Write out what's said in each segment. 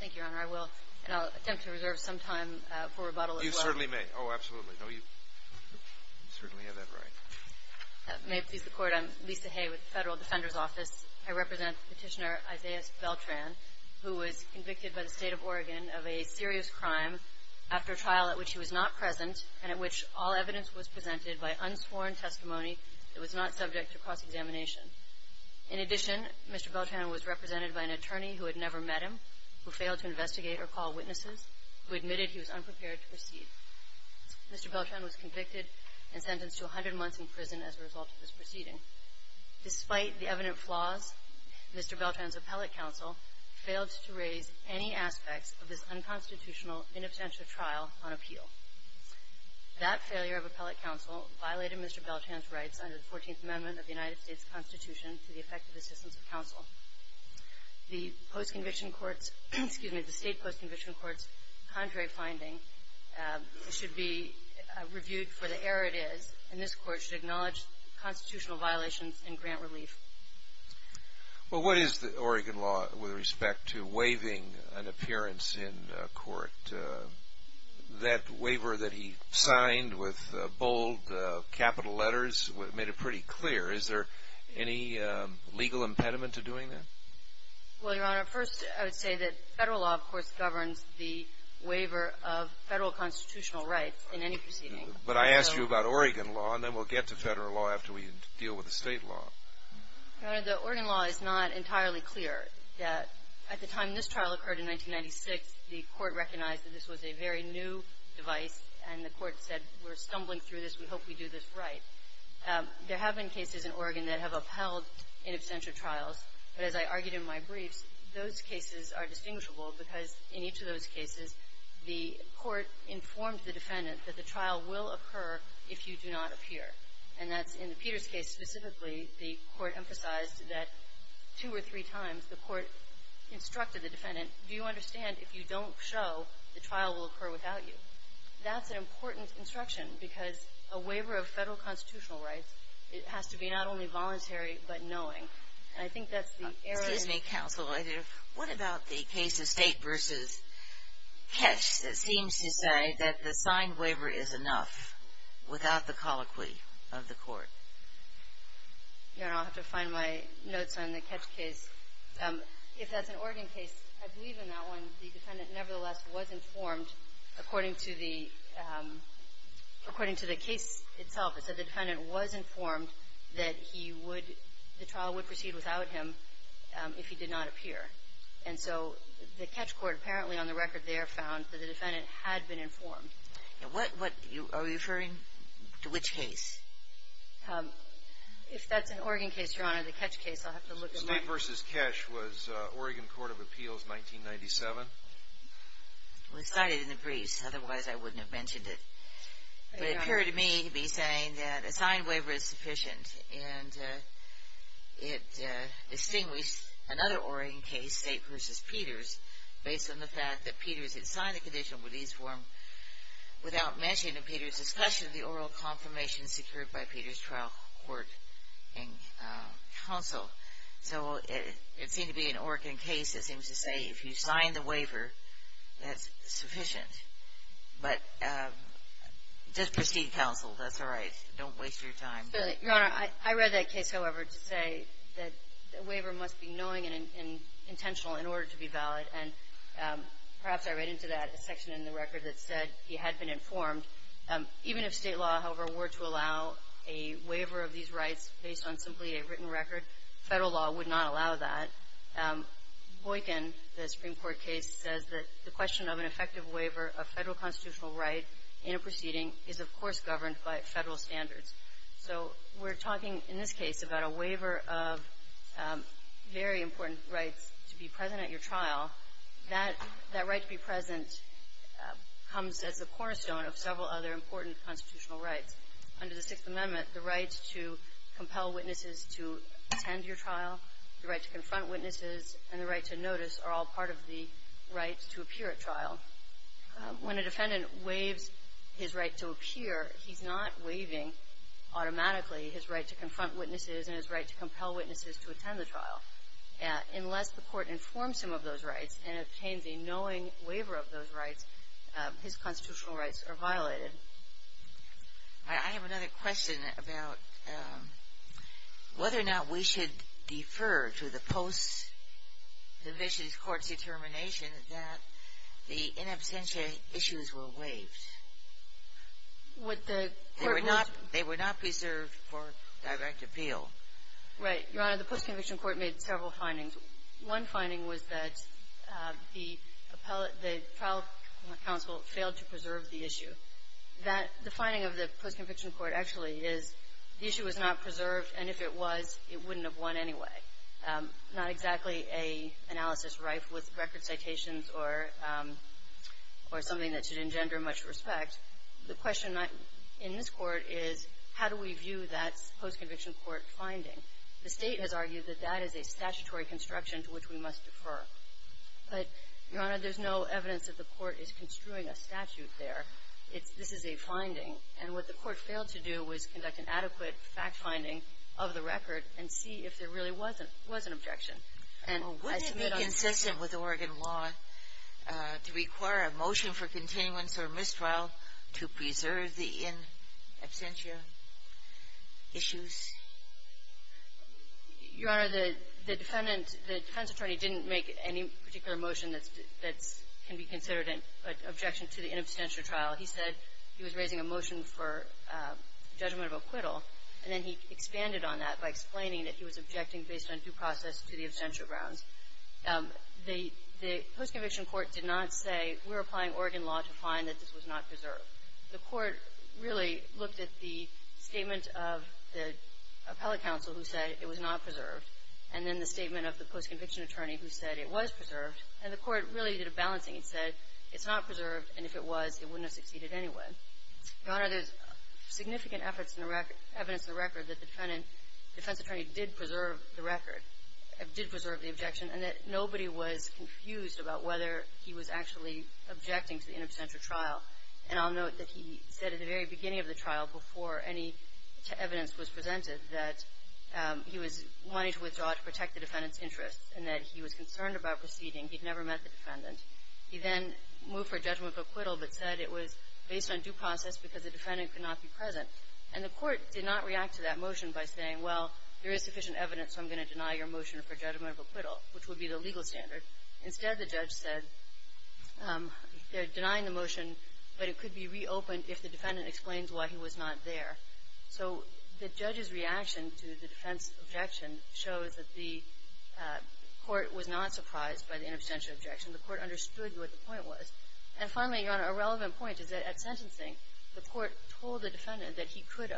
Thank you, Your Honor. I will, and I'll attempt to reserve some time for rebuttal as well. You certainly may. Oh, absolutely. No, you certainly have that right. May it please the Court, I'm Lisa Hay with the Federal Defender's Office. I represent Petitioner Isaias Beltran, who was convicted by the State of Oregon of a serious crime after a trial at which he was not present and at which all evidence was presented by unsworn testimony that was not subject to cross-examination. In addition, Mr. Beltran was represented by an attorney who had never met him, who failed to investigate or call witnesses, who admitted he was unprepared to proceed. Mr. Beltran was convicted and sentenced to 100 months in prison as a result of this proceeding. Despite the evident flaws, Mr. Beltran's appellate counsel failed to raise any aspects of this unconstitutional, inabstential trial on appeal. That failure of appellate counsel violated Mr. Beltran's rights under the 14th Amendment of the United States Constitution to the effect of assistance of counsel. The state post-conviction court's contrary finding should be reviewed for the error it is, and this Court should acknowledge constitutional violations and grant relief. Well, what is the Oregon law with respect to waiving an appearance in court? That waiver that he signed with bold capital letters made it pretty clear. Is there any legal impediment to doing that? Well, Your Honor, first I would say that federal law, of course, governs the waiver of federal constitutional rights in any proceeding. But I asked you about Oregon law, and then we'll get to federal law after we deal with the state law. Your Honor, the Oregon law is not entirely clear. At the time this trial occurred in 1996, the Court recognized that this was a very new device, and the Court said, we're stumbling through this. We hope we do this right. There have been cases in Oregon that have upheld inabstential trials. But as I argued in my briefs, those cases are distinguishable because in each of those cases, the Court informed the defendant that the trial will occur if you do not appear. And that's in the Peters case specifically. The Court emphasized that two or three times, the Court instructed the defendant, do you understand if you don't show, the trial will occur without you. That's an important instruction because a waiver of federal constitutional rights, it has to be not only voluntary but knowing. And I think that's the error in the law. Excuse me, counsel. What about the case of State v. Ketch that seems to say that the signed waiver is enough without the colloquy of the Court? Your Honor, I'll have to find my notes on the Ketch case. If that's an Oregon case, I believe in that one, the defendant nevertheless was informed according to the case itself. The defendant was informed that the trial would proceed without him if he did not appear. And so the Ketch court apparently on the record there found that the defendant had been informed. Are you referring to which case? If that's an Oregon case, Your Honor, the Ketch case, I'll have to look at my notes. State v. Ketch was Oregon Court of Appeals, 1997? It was cited in the briefs. Otherwise, I wouldn't have mentioned it. But it appeared to me to be saying that a signed waiver is sufficient. And it distinguished another Oregon case, State v. Peters, based on the fact that Peters had signed the conditional release form without mentioning in Peters' discussion the oral confirmation secured by Peters' trial court and counsel. So it seemed to be an Oregon case that seems to say if you sign the waiver, that's sufficient. But just proceed, counsel. That's all right. Don't waste your time. Your Honor, I read that case, however, to say that the waiver must be knowing and intentional in order to be valid. And perhaps I read into that a section in the record that said he had been informed. Even if State law, however, were to allow a waiver of these rights based on simply a written record, Federal law would not allow that. Boykin, the Supreme Court case, says that the question of an effective waiver of Federal constitutional right in a proceeding is, of course, governed by Federal standards. So we're talking in this case about a waiver of very important rights to be present at your trial. That right to be present comes as the cornerstone of several other important constitutional rights. Under the Sixth Amendment, the right to compel witnesses to attend your trial, the right to confront witnesses, and the right to notice are all part of the right to appear at trial. When a defendant waives his right to appear, he's not waiving automatically his right to confront witnesses and his right to compel witnesses to attend the trial. Unless the Court informs him of those rights and obtains a knowing waiver of those rights, his constitutional rights are violated. Ginsburg. I have another question about whether or not we should defer to the post-conviction court's determination that the in absentia issues were waived. Would the court move to the post-conviction court? They were not preserved for direct appeal. Right. Your Honor, the post-conviction court made several findings. One finding was that the appellate, the trial counsel failed to preserve the issue. That, the finding of the post-conviction court actually is the issue was not preserved, and if it was, it wouldn't have won anyway. Not exactly an analysis rife with record citations or something that should engender much respect. The question in this Court is how do we view that post-conviction court finding? The State has argued that that is a statutory construction to which we must defer. But, Your Honor, there's no evidence that the Court is construing a statute there. It's this is a finding. And what the Court failed to do was conduct an adequate fact-finding of the record and see if there really was an objection. And I submit on that. Well, wouldn't it be consistent with Oregon law to require a motion for continuance or mistrial to preserve the in absentia issues? Your Honor, the defendant, the defense attorney didn't make any particular motion that can be considered an objection to the in absentia trial. He said he was raising a motion for judgment of acquittal, and then he expanded on that by explaining that he was objecting based on due process to the absentia grounds. The post-conviction court did not say we're applying Oregon law to find that this was not preserved. The Court really looked at the statement of the appellate counsel who said it was not preserved and then the statement of the post-conviction attorney who said it was preserved. And the Court really did a balancing. It said it's not preserved, and if it was, it wouldn't have succeeded anyway. Your Honor, there's significant evidence in the record that the defense attorney did preserve the record, did preserve the objection, and that nobody was confused about whether he was actually objecting to the in absentia trial. And I'll note that he said at the very beginning of the trial, before any evidence was presented, that he was wanting to withdraw to protect the defendant's interests and that he was concerned about proceeding. He'd never met the defendant. He then moved for judgment of acquittal but said it was based on due process because the defendant could not be present. And the Court did not react to that motion by saying, well, there is sufficient evidence, so I'm going to deny your motion for judgment of acquittal, which would be the legal standard. Instead, the judge said they're denying the motion, but it could be reopened if the defendant explains why he was not there. So the judge's reaction to the defense objection shows that the Court was not surprised by the in absentia objection. The Court understood what the point was. And finally, Your Honor, a relevant point is that at sentencing, the Court told the defendant that he could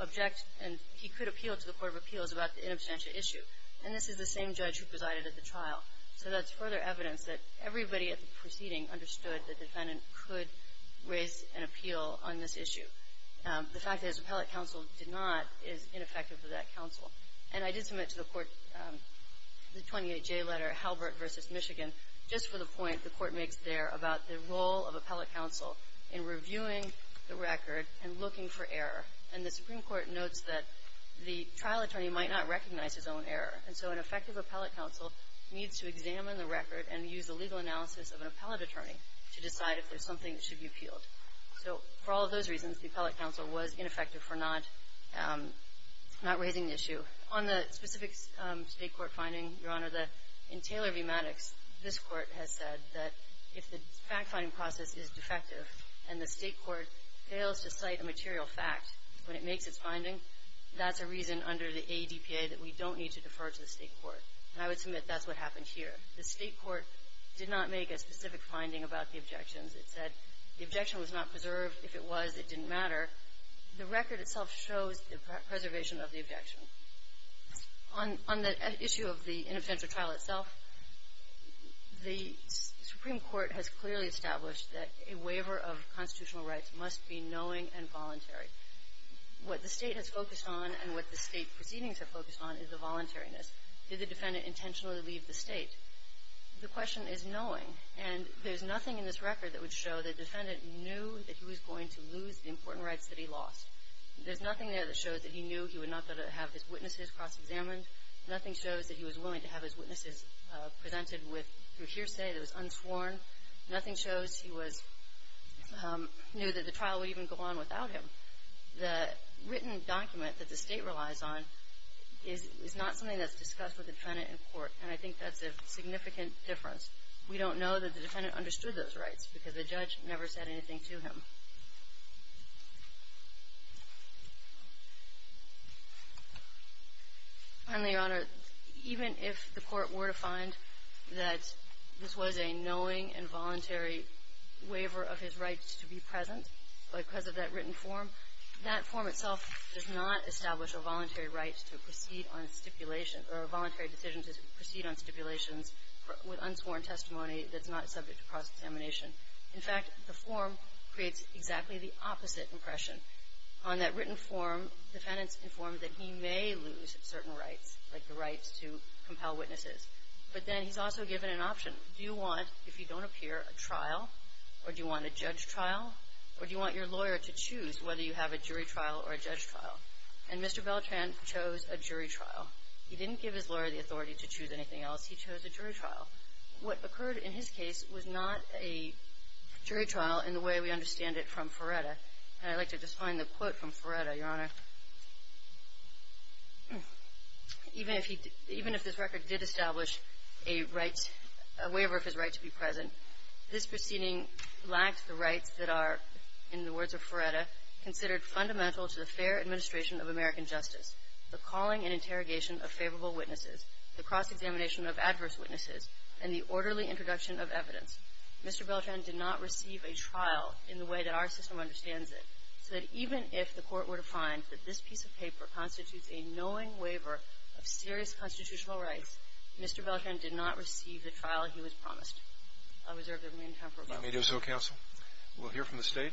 object and he could appeal to the Court of Appeals about the in absentia issue. And this is the same judge who presided at the trial. So that's further evidence that everybody at the proceeding understood the defendant could raise an appeal on this issue. The fact that his appellate counsel did not is ineffective to that counsel. And I did submit to the Court the 28J letter, Halbert v. Michigan, just for the point the Court makes there about the role of appellate counsel in reviewing the record and looking for error. And the Supreme Court notes that the trial attorney might not recognize his own error. And so an effective appellate counsel needs to examine the record and use the legal analysis of an appellate attorney to decide if there's something that should be appealed. So for all those reasons, the appellate counsel was ineffective for not raising the issue. On the specific State court finding, Your Honor, in Taylor v. Maddox, this Court has said that if the fact-finding process is defective and the State court fails to cite a material fact when it makes its finding, that's a reason under the ADPA that we don't need to defer to the State court. And I would submit that's what happened here. The State court did not make a specific finding about the objections. It said the objection was not preserved. If it was, it didn't matter. The record itself shows the preservation of the objection. On the issue of the inobstantial trial itself, the Supreme Court has clearly established that a waiver of constitutional rights must be knowing and voluntary. What the State has focused on and what the State proceedings have focused on is the voluntariness. Did the defendant intentionally leave the State? The question is knowing. And there's nothing in this record that would show the defendant knew that he was going to lose the important rights that he lost. There's nothing there that shows that he knew he was not going to have his witnesses cross-examined. Nothing shows that he was willing to have his witnesses presented with hearsay that was unsworn. Nothing shows he knew that the trial would even go on without him. The written document that the State relies on is not something that's discussed with the defendant in court. And I think that's a significant difference. We don't know that the defendant understood those rights because the judge never said anything to him. Finally, Your Honor, even if the Court were to find that this was a knowing and voluntary waiver of his rights to be present because of that written form, that form itself does not establish a voluntary right to proceed on stipulation or a voluntary decision to proceed on stipulations with unsworn testimony that's not subject to cross-examination. In fact, the form creates exactly the opposite impression. On that written form, defendants informed that he may lose certain rights, like the rights to compel witnesses. But then he's also given an option. Do you want, if you don't appear, a trial? Or do you want a judge trial? Or do you want your lawyer to choose whether you have a jury trial or a judge trial? And Mr. Beltran chose a jury trial. He didn't give his lawyer the authority to choose anything else. He chose a jury trial. What occurred in his case was not a jury trial in the way we understand it from Ferretta. And I'd like to just find the quote from Ferretta, Your Honor. Even if he did – even if this record did establish a rights – a waiver of his right to be present, this proceeding lacked the rights that are, in the words of Ferretta, considered fundamental to the fair administration of American justice, the calling and interrogation of favorable witnesses, the cross-examination of adverse witnesses, and the orderly introduction of evidence. Mr. Beltran did not receive a trial in the way that our system understands it. So that even if the Court were to find that this piece of paper constitutes a knowing waiver of serious constitutional rights, Mr. Beltran did not receive the trial he was promised. I reserve the remaining time for rebuttal. If that may do so, Counsel. We'll hear from the State.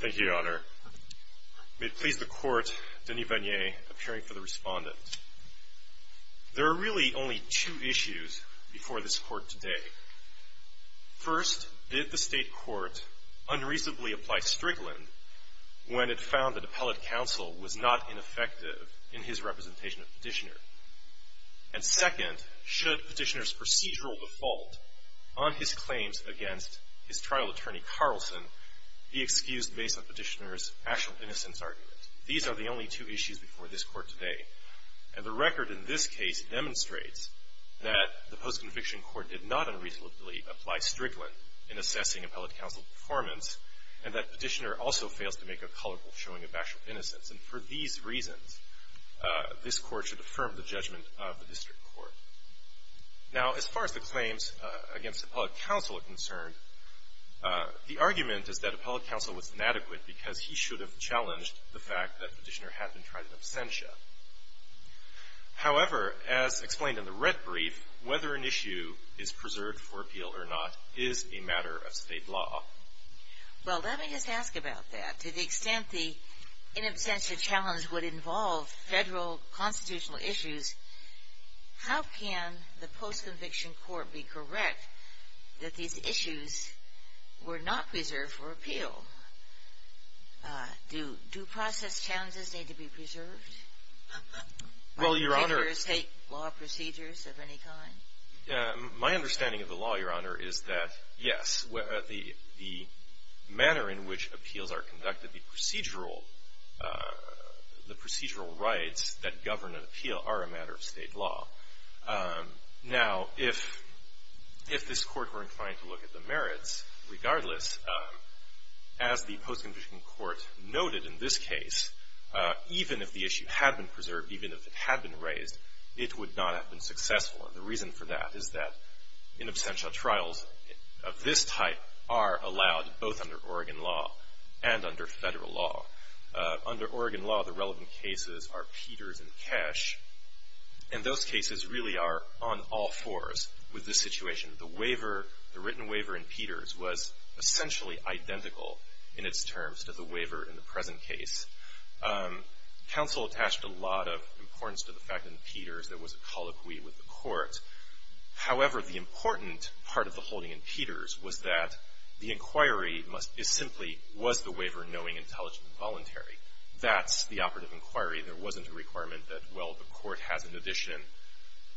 Thank you, Your Honor. May it please the Court, Denis Vanier, appearing for the Respondent. There are really only two issues before this Court today. First, did the State Court unreasonably apply Strigland when it found that appellate counsel was not ineffective in his representation of Petitioner? And second, should Petitioner's procedural default on his claims against his trial attorney Carlson be excused based on Petitioner's actual innocence argument? These are the only two issues before this Court today. And the record in this case demonstrates that the post-conviction Court did not unreasonably apply Strigland in assessing appellate counsel performance, and that Petitioner also fails to make a colorful showing of actual innocence. And for these reasons, this Court should affirm the judgment of the District Court. Now, as far as the claims against appellate counsel are concerned, the argument is that appellate counsel was inadequate because he should have challenged the fact that Petitioner had been tried in absentia. However, as explained in the red brief, whether an issue is preserved for appeal or not is a matter of State law. Well, let me just ask about that. To the extent the in absentia challenge would involve Federal constitutional issues, how can the post-conviction Court be correct that these issues were not preserved for appeal? Do due process challenges need to be preserved? Well, Your Honor. Do jurors take law procedures of any kind? My understanding of the law, Your Honor, is that, yes. The manner in which appeals are conducted, the procedural rights that govern an appeal are a matter of State law. Now, if this Court were inclined to look at the merits, regardless, as the post-conviction Court noted in this case, even if the issue had been preserved, even if it had been raised, it would not have been successful. And the reason for that is that in absentia trials of this type are allowed both under Oregon law and under Federal law. Under Oregon law, the relevant cases are Peters and Cash. And those cases really are on all fours with this situation. The waiver, the written waiver in Peters was essentially identical in its terms to the waiver in the present case. Counsel attached a lot of importance to the fact in Peters there was a colloquy with the Court. However, the important part of the holding in Peters was that the inquiry must, is simply, was the waiver knowing, intelligent, and voluntary? That's the operative inquiry. There wasn't a requirement that, well, the Court has an addition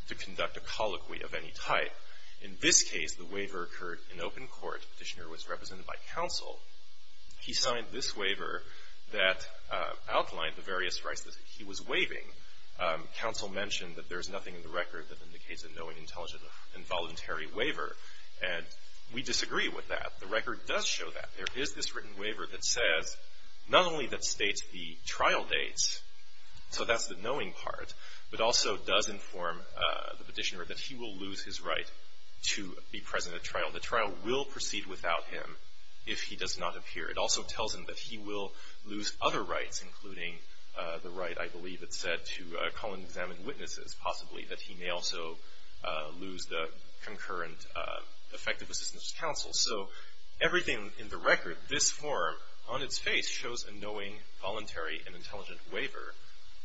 to conduct a colloquy of any type. In this case, the waiver occurred in open court. Petitioner was represented by counsel. He signed this waiver that outlined the various rights that he was waiving. Counsel mentioned that there's nothing in the record that indicates a knowing, intelligent, and voluntary waiver. And we disagree with that. The record does show that. There is this written waiver that says not only that states the trial dates, so that's the knowing part, but also does inform the petitioner that he will lose his right to be present at trial. The trial will proceed without him if he does not appear. It also tells him that he will lose other rights, including the right, I believe it's said, to call and examine witnesses, possibly, that he may also lose the concurrent effective assistance to counsel. So everything in the record, this form, on its face shows a knowing, voluntary, and intelligent waiver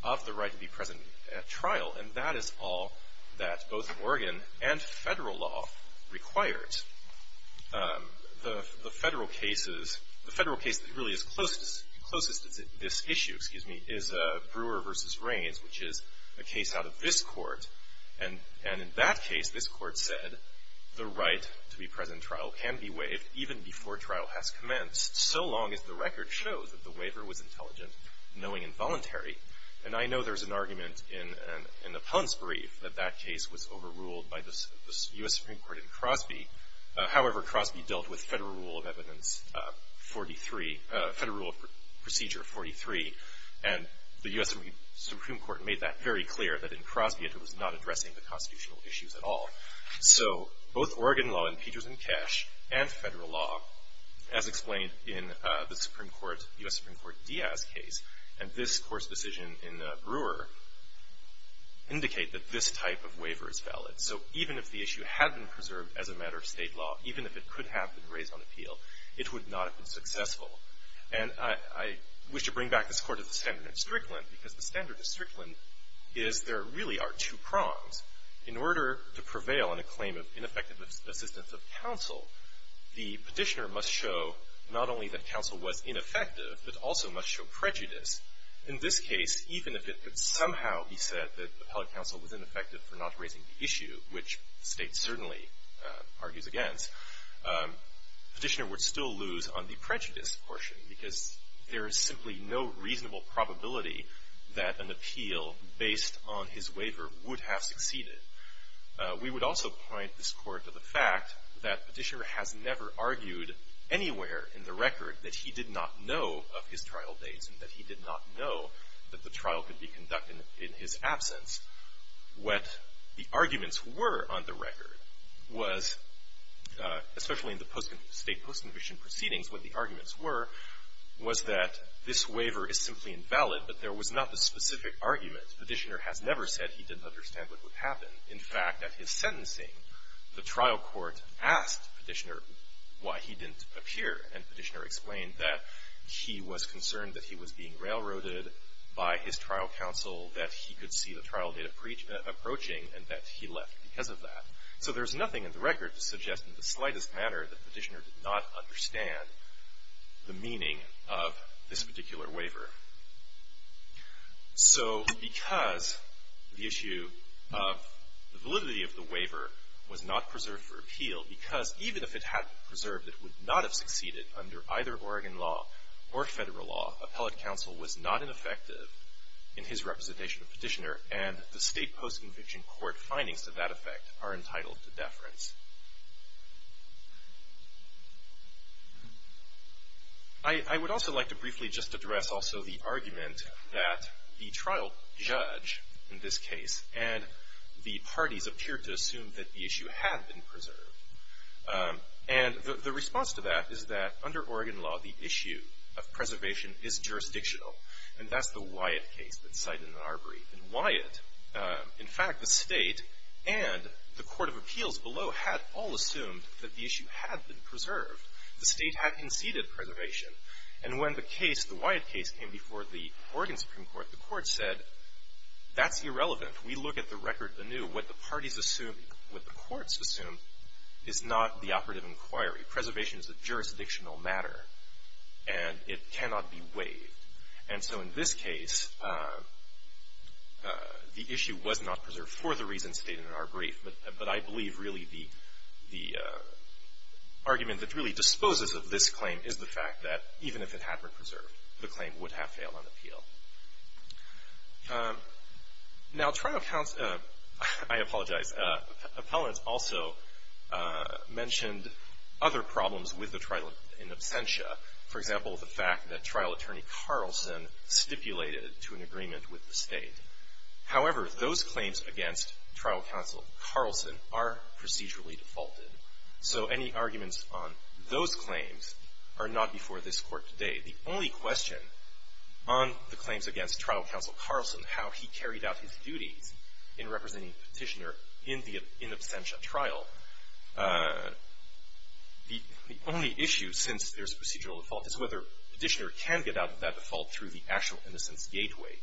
of the right to be present at trial. And that is all that both Oregon and Federal law required. The Federal case that really is closest to this issue, excuse me, is Brewer v. Rains, which is a case out of this Court. And in that case, this Court said the right to be present at trial can be waived even before trial has commenced, so long as the record shows that the waiver was intelligent, knowing, and voluntary. And I know there's an argument in the Ponce brief that that case was overruled by the U.S. Supreme Court in Crosby. However, Crosby dealt with Federal Rule of Evidence 43, Federal Rule of Procedure 43, and the U.S. Supreme Court made that very clear that in Crosby it was not addressing the constitutional issues at all. So both Oregon law and Peterson-Kesh and Federal law, as explained in the Supreme Court, U.S. decision in Brewer, indicate that this type of waiver is valid. So even if the issue had been preserved as a matter of State law, even if it could have been raised on appeal, it would not have been successful. And I wish to bring back this Court to the standard of Strickland, because the standard of Strickland is there really are two prongs. In order to prevail on a claim of ineffective assistance of counsel, the petitioner must show not only that counsel was ineffective, but also must show prejudice. In this case, even if it could somehow be said that the appellate counsel was ineffective for not raising the issue, which the State certainly argues against, the petitioner would still lose on the prejudice portion, because there is simply no reasonable probability that an appeal based on his waiver would have succeeded. We would also point this Court to the fact that the petitioner has never argued anywhere in the record that he did not know of his trial dates and that he did not know that the trial could be conducted in his absence. What the arguments were on the record was, especially in the State post-conviction proceedings, what the arguments were was that this waiver is simply invalid, but there was not the specific argument. The petitioner has never said he didn't understand what would happen. In fact, at his sentencing, the trial court asked the petitioner why he didn't appear, and the petitioner explained that he was concerned that he was being railroaded by his trial counsel, that he could see the trial date approaching, and that he left because of that. So there's nothing in the record to suggest in the slightest manner that the petitioner did not understand the meaning of this particular waiver. So because the issue of the validity of the waiver was not preserved for appeal, because even if it had been preserved, it would not have succeeded under either Oregon law or Federal law. Appellate counsel was not ineffective in his representation of the petitioner, and the State post-conviction court findings to that effect are entitled to deference. I would also like to briefly just address also the argument that the trial judge, in this case, and the parties appeared to assume that the issue had been preserved. And the response to that is that under Oregon law, the issue of preservation is jurisdictional, and that's the Wyatt case that's cited in our brief. And Wyatt, in fact, the State and the court of appeals below had a jurisdiction over the case, and they had all assumed that the issue had been preserved. The State had conceded preservation. And when the case, the Wyatt case, came before the Oregon Supreme Court, the court said, that's irrelevant. We look at the record anew. What the parties assumed, what the courts assumed, is not the operative inquiry. Preservation is a jurisdictional matter, and it cannot be waived. And so in this case, the issue was not preserved for the reasons stated in our brief. But I believe really the argument that really disposes of this claim is the fact that even if it had been preserved, the claim would have failed on appeal. Now, trial counsel, I apologize, appellants also mentioned other problems with the trial in absentia. For example, the fact that trial attorney Carlson stipulated to an agreement with the State. However, those claims against trial counsel Carlson are procedurally defaulted. So any arguments on those claims are not before this court today. The only question on the claims against trial counsel Carlson, how he carried out his duties in representing Petitioner in the absentia trial, the only issue, since there's a procedural default, is whether Petitioner can get out of that default through the actual innocence gateway.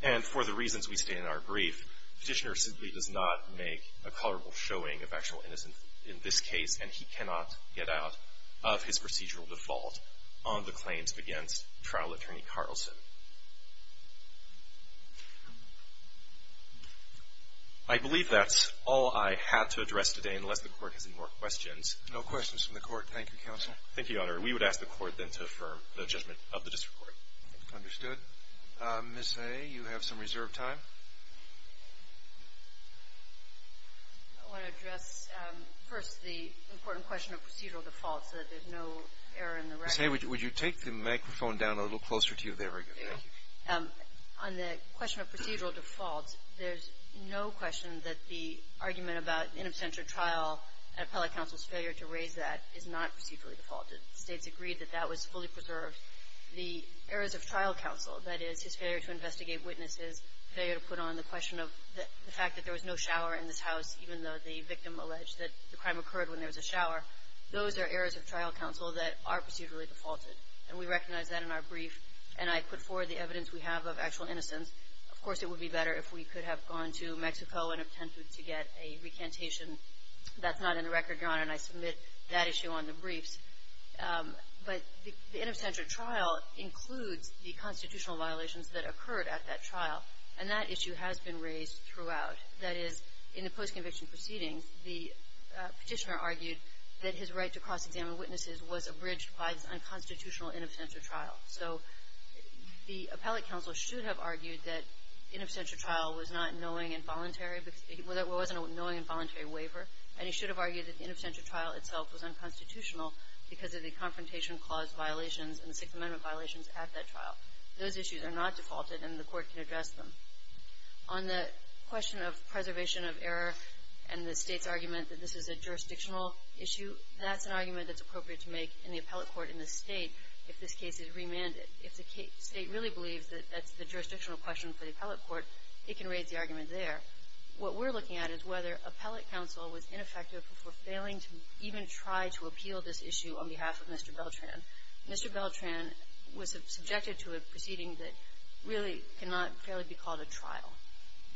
And for the reasons we state in our brief, Petitioner simply does not make a colorable showing of actual innocence in this case, and he cannot get out of his procedural default on the claims against trial attorney Carlson. I believe that's all I had to address today, unless the Court has any more questions. Roberts. No questions from the Court. Thank you, counsel. Fisher. Thank you, Your Honor. We would ask the Court then to affirm the judgment of the district court. Understood. Ms. Hay, you have some reserved time. I want to address first the important question of procedural default so that there's no error in the record. Ms. Hay, would you take the microphone down a little closer to you there? Very good. Thank you. On the question of procedural default, there's no question that the argument about in absentia trial and appellate counsel's failure to raise that is not procedurally defaulted. The States agreed that that was fully preserved. The errors of trial counsel, that is, his failure to investigate witnesses, failure to put on the question of the fact that there was no shower in this house, even though the victim alleged that the crime occurred when there was a shower, those are errors of trial counsel that are procedurally defaulted. And we recognize that in our brief, and I put forward the evidence we have of actual innocence. Of course, it would be better if we could have gone to Mexico and attempted to get a recantation. That's not in the record, Your Honor, and I submit that issue on the briefs. But the in absentia trial includes the constitutional violations that occurred at that trial. And that issue has been raised throughout. That is, in the post-conviction proceedings, the Petitioner argued that his right to cross-examine witnesses was abridged by this unconstitutional in absentia trial. So the appellate counsel should have argued that in absentia trial was not knowing involuntary waiver, and he should have argued that the in absentia trial itself was unconstitutional because of the confrontation clause violations and the Sixth Amendment violations at that trial. Those issues are not defaulted, and the Court can address them. On the question of preservation of error and the State's argument that this is a jurisdictional issue, that's an argument that's appropriate to make in the appellate court in the State if this case is remanded. It can raise the argument there. What we're looking at is whether appellate counsel was ineffective for failing to even try to appeal this issue on behalf of Mr. Beltran. Mr. Beltran was subjected to a proceeding that really cannot fairly be called a trial.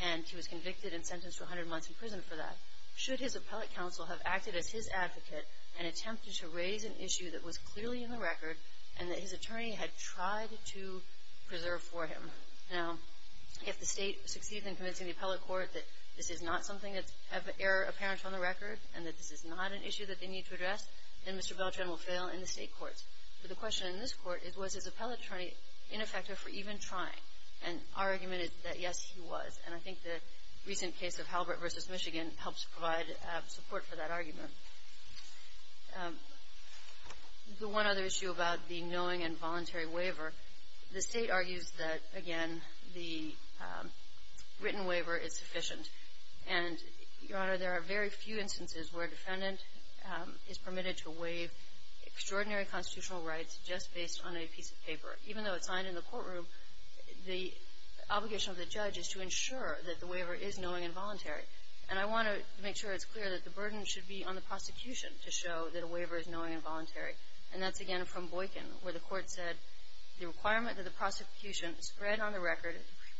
And he was convicted and sentenced to 100 months in prison for that. Should his appellate counsel have acted as his advocate and attempted to raise an issue that was clearly in the record and that his attorney had tried to preserve for him? Now, if the State succeeds in convincing the appellate court that this is not something that's error apparent on the record and that this is not an issue that they need to address, then Mr. Beltran will fail in the State courts. But the question in this court is was his appellate attorney ineffective for even trying? And our argument is that, yes, he was. And I think the recent case of Halbert v. Michigan helps provide support for that argument. The one other issue about the knowing and voluntary waiver, the State argues that, again, the written waiver is sufficient. And, Your Honor, there are very few instances where a defendant is permitted to waive extraordinary constitutional rights just based on a piece of paper. Even though it's signed in the courtroom, the obligation of the judge is to ensure that the waiver is knowing and voluntary. And I want to make sure it's clear that the burden should be on the prosecution to show that a waiver is knowing and voluntary. And that's, again, from Boykin, where the court said, the requirement of the prosecution spread on the record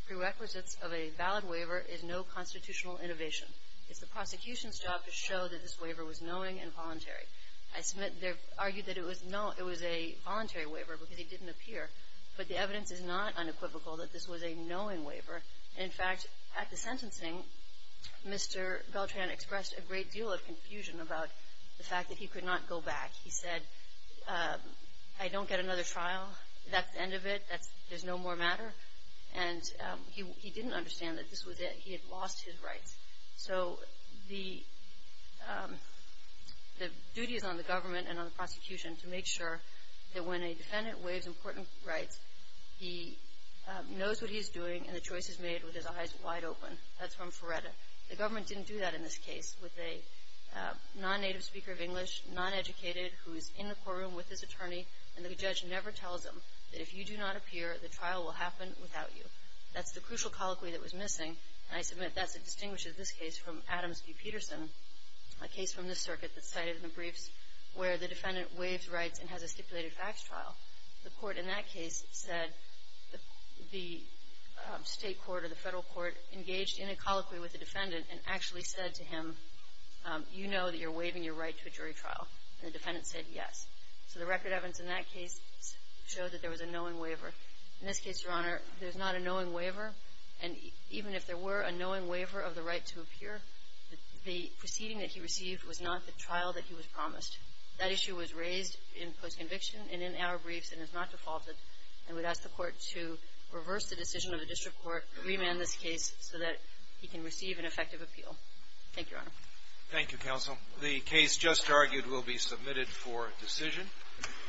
prerequisites of a valid waiver is no constitutional innovation. It's the prosecution's job to show that this waiver was knowing and voluntary. I submit they've argued that it was a voluntary waiver because he didn't appear. But the evidence is not unequivocal that this was a knowing waiver. In fact, at the sentencing, Mr. Beltran expressed a great deal of confusion about the fact that he could not go back. He said, I don't get another trial. That's the end of it. There's no more matter. And he didn't understand that this was it. He had lost his rights. So the duty is on the government and on the prosecution to make sure that when a defendant waives important rights, he knows what he's doing and the choice is made with his eyes wide open. That's from Ferretta. The government didn't do that in this case with a non-native speaker of English, non-educated, who is in the courtroom with his attorney, and the judge never tells him that if you do not appear, the trial will happen without you. That's the crucial colloquy that was missing, and I submit that distinguishes this case from Adams v. Peterson, a case from this circuit that's cited in the briefs where the defendant waives rights and has a stipulated facts trial. The court in that case said the state court or the federal court engaged in a colloquy with the defendant and actually said to him, you know that you're waiving your right to a jury trial. And the defendant said yes. So the record evidence in that case showed that there was a knowing waiver. In this case, Your Honor, there's not a knowing waiver, and even if there were a knowing waiver of the right to appear, the proceeding that he received was not the trial that he was promised. That issue was raised in post-conviction and in our briefs and is not defaulted. I would ask the court to reverse the decision of the district court, remand this case so that he can receive an effective appeal. Thank you, Your Honor. Thank you, counsel. The case just argued will be submitted for decision.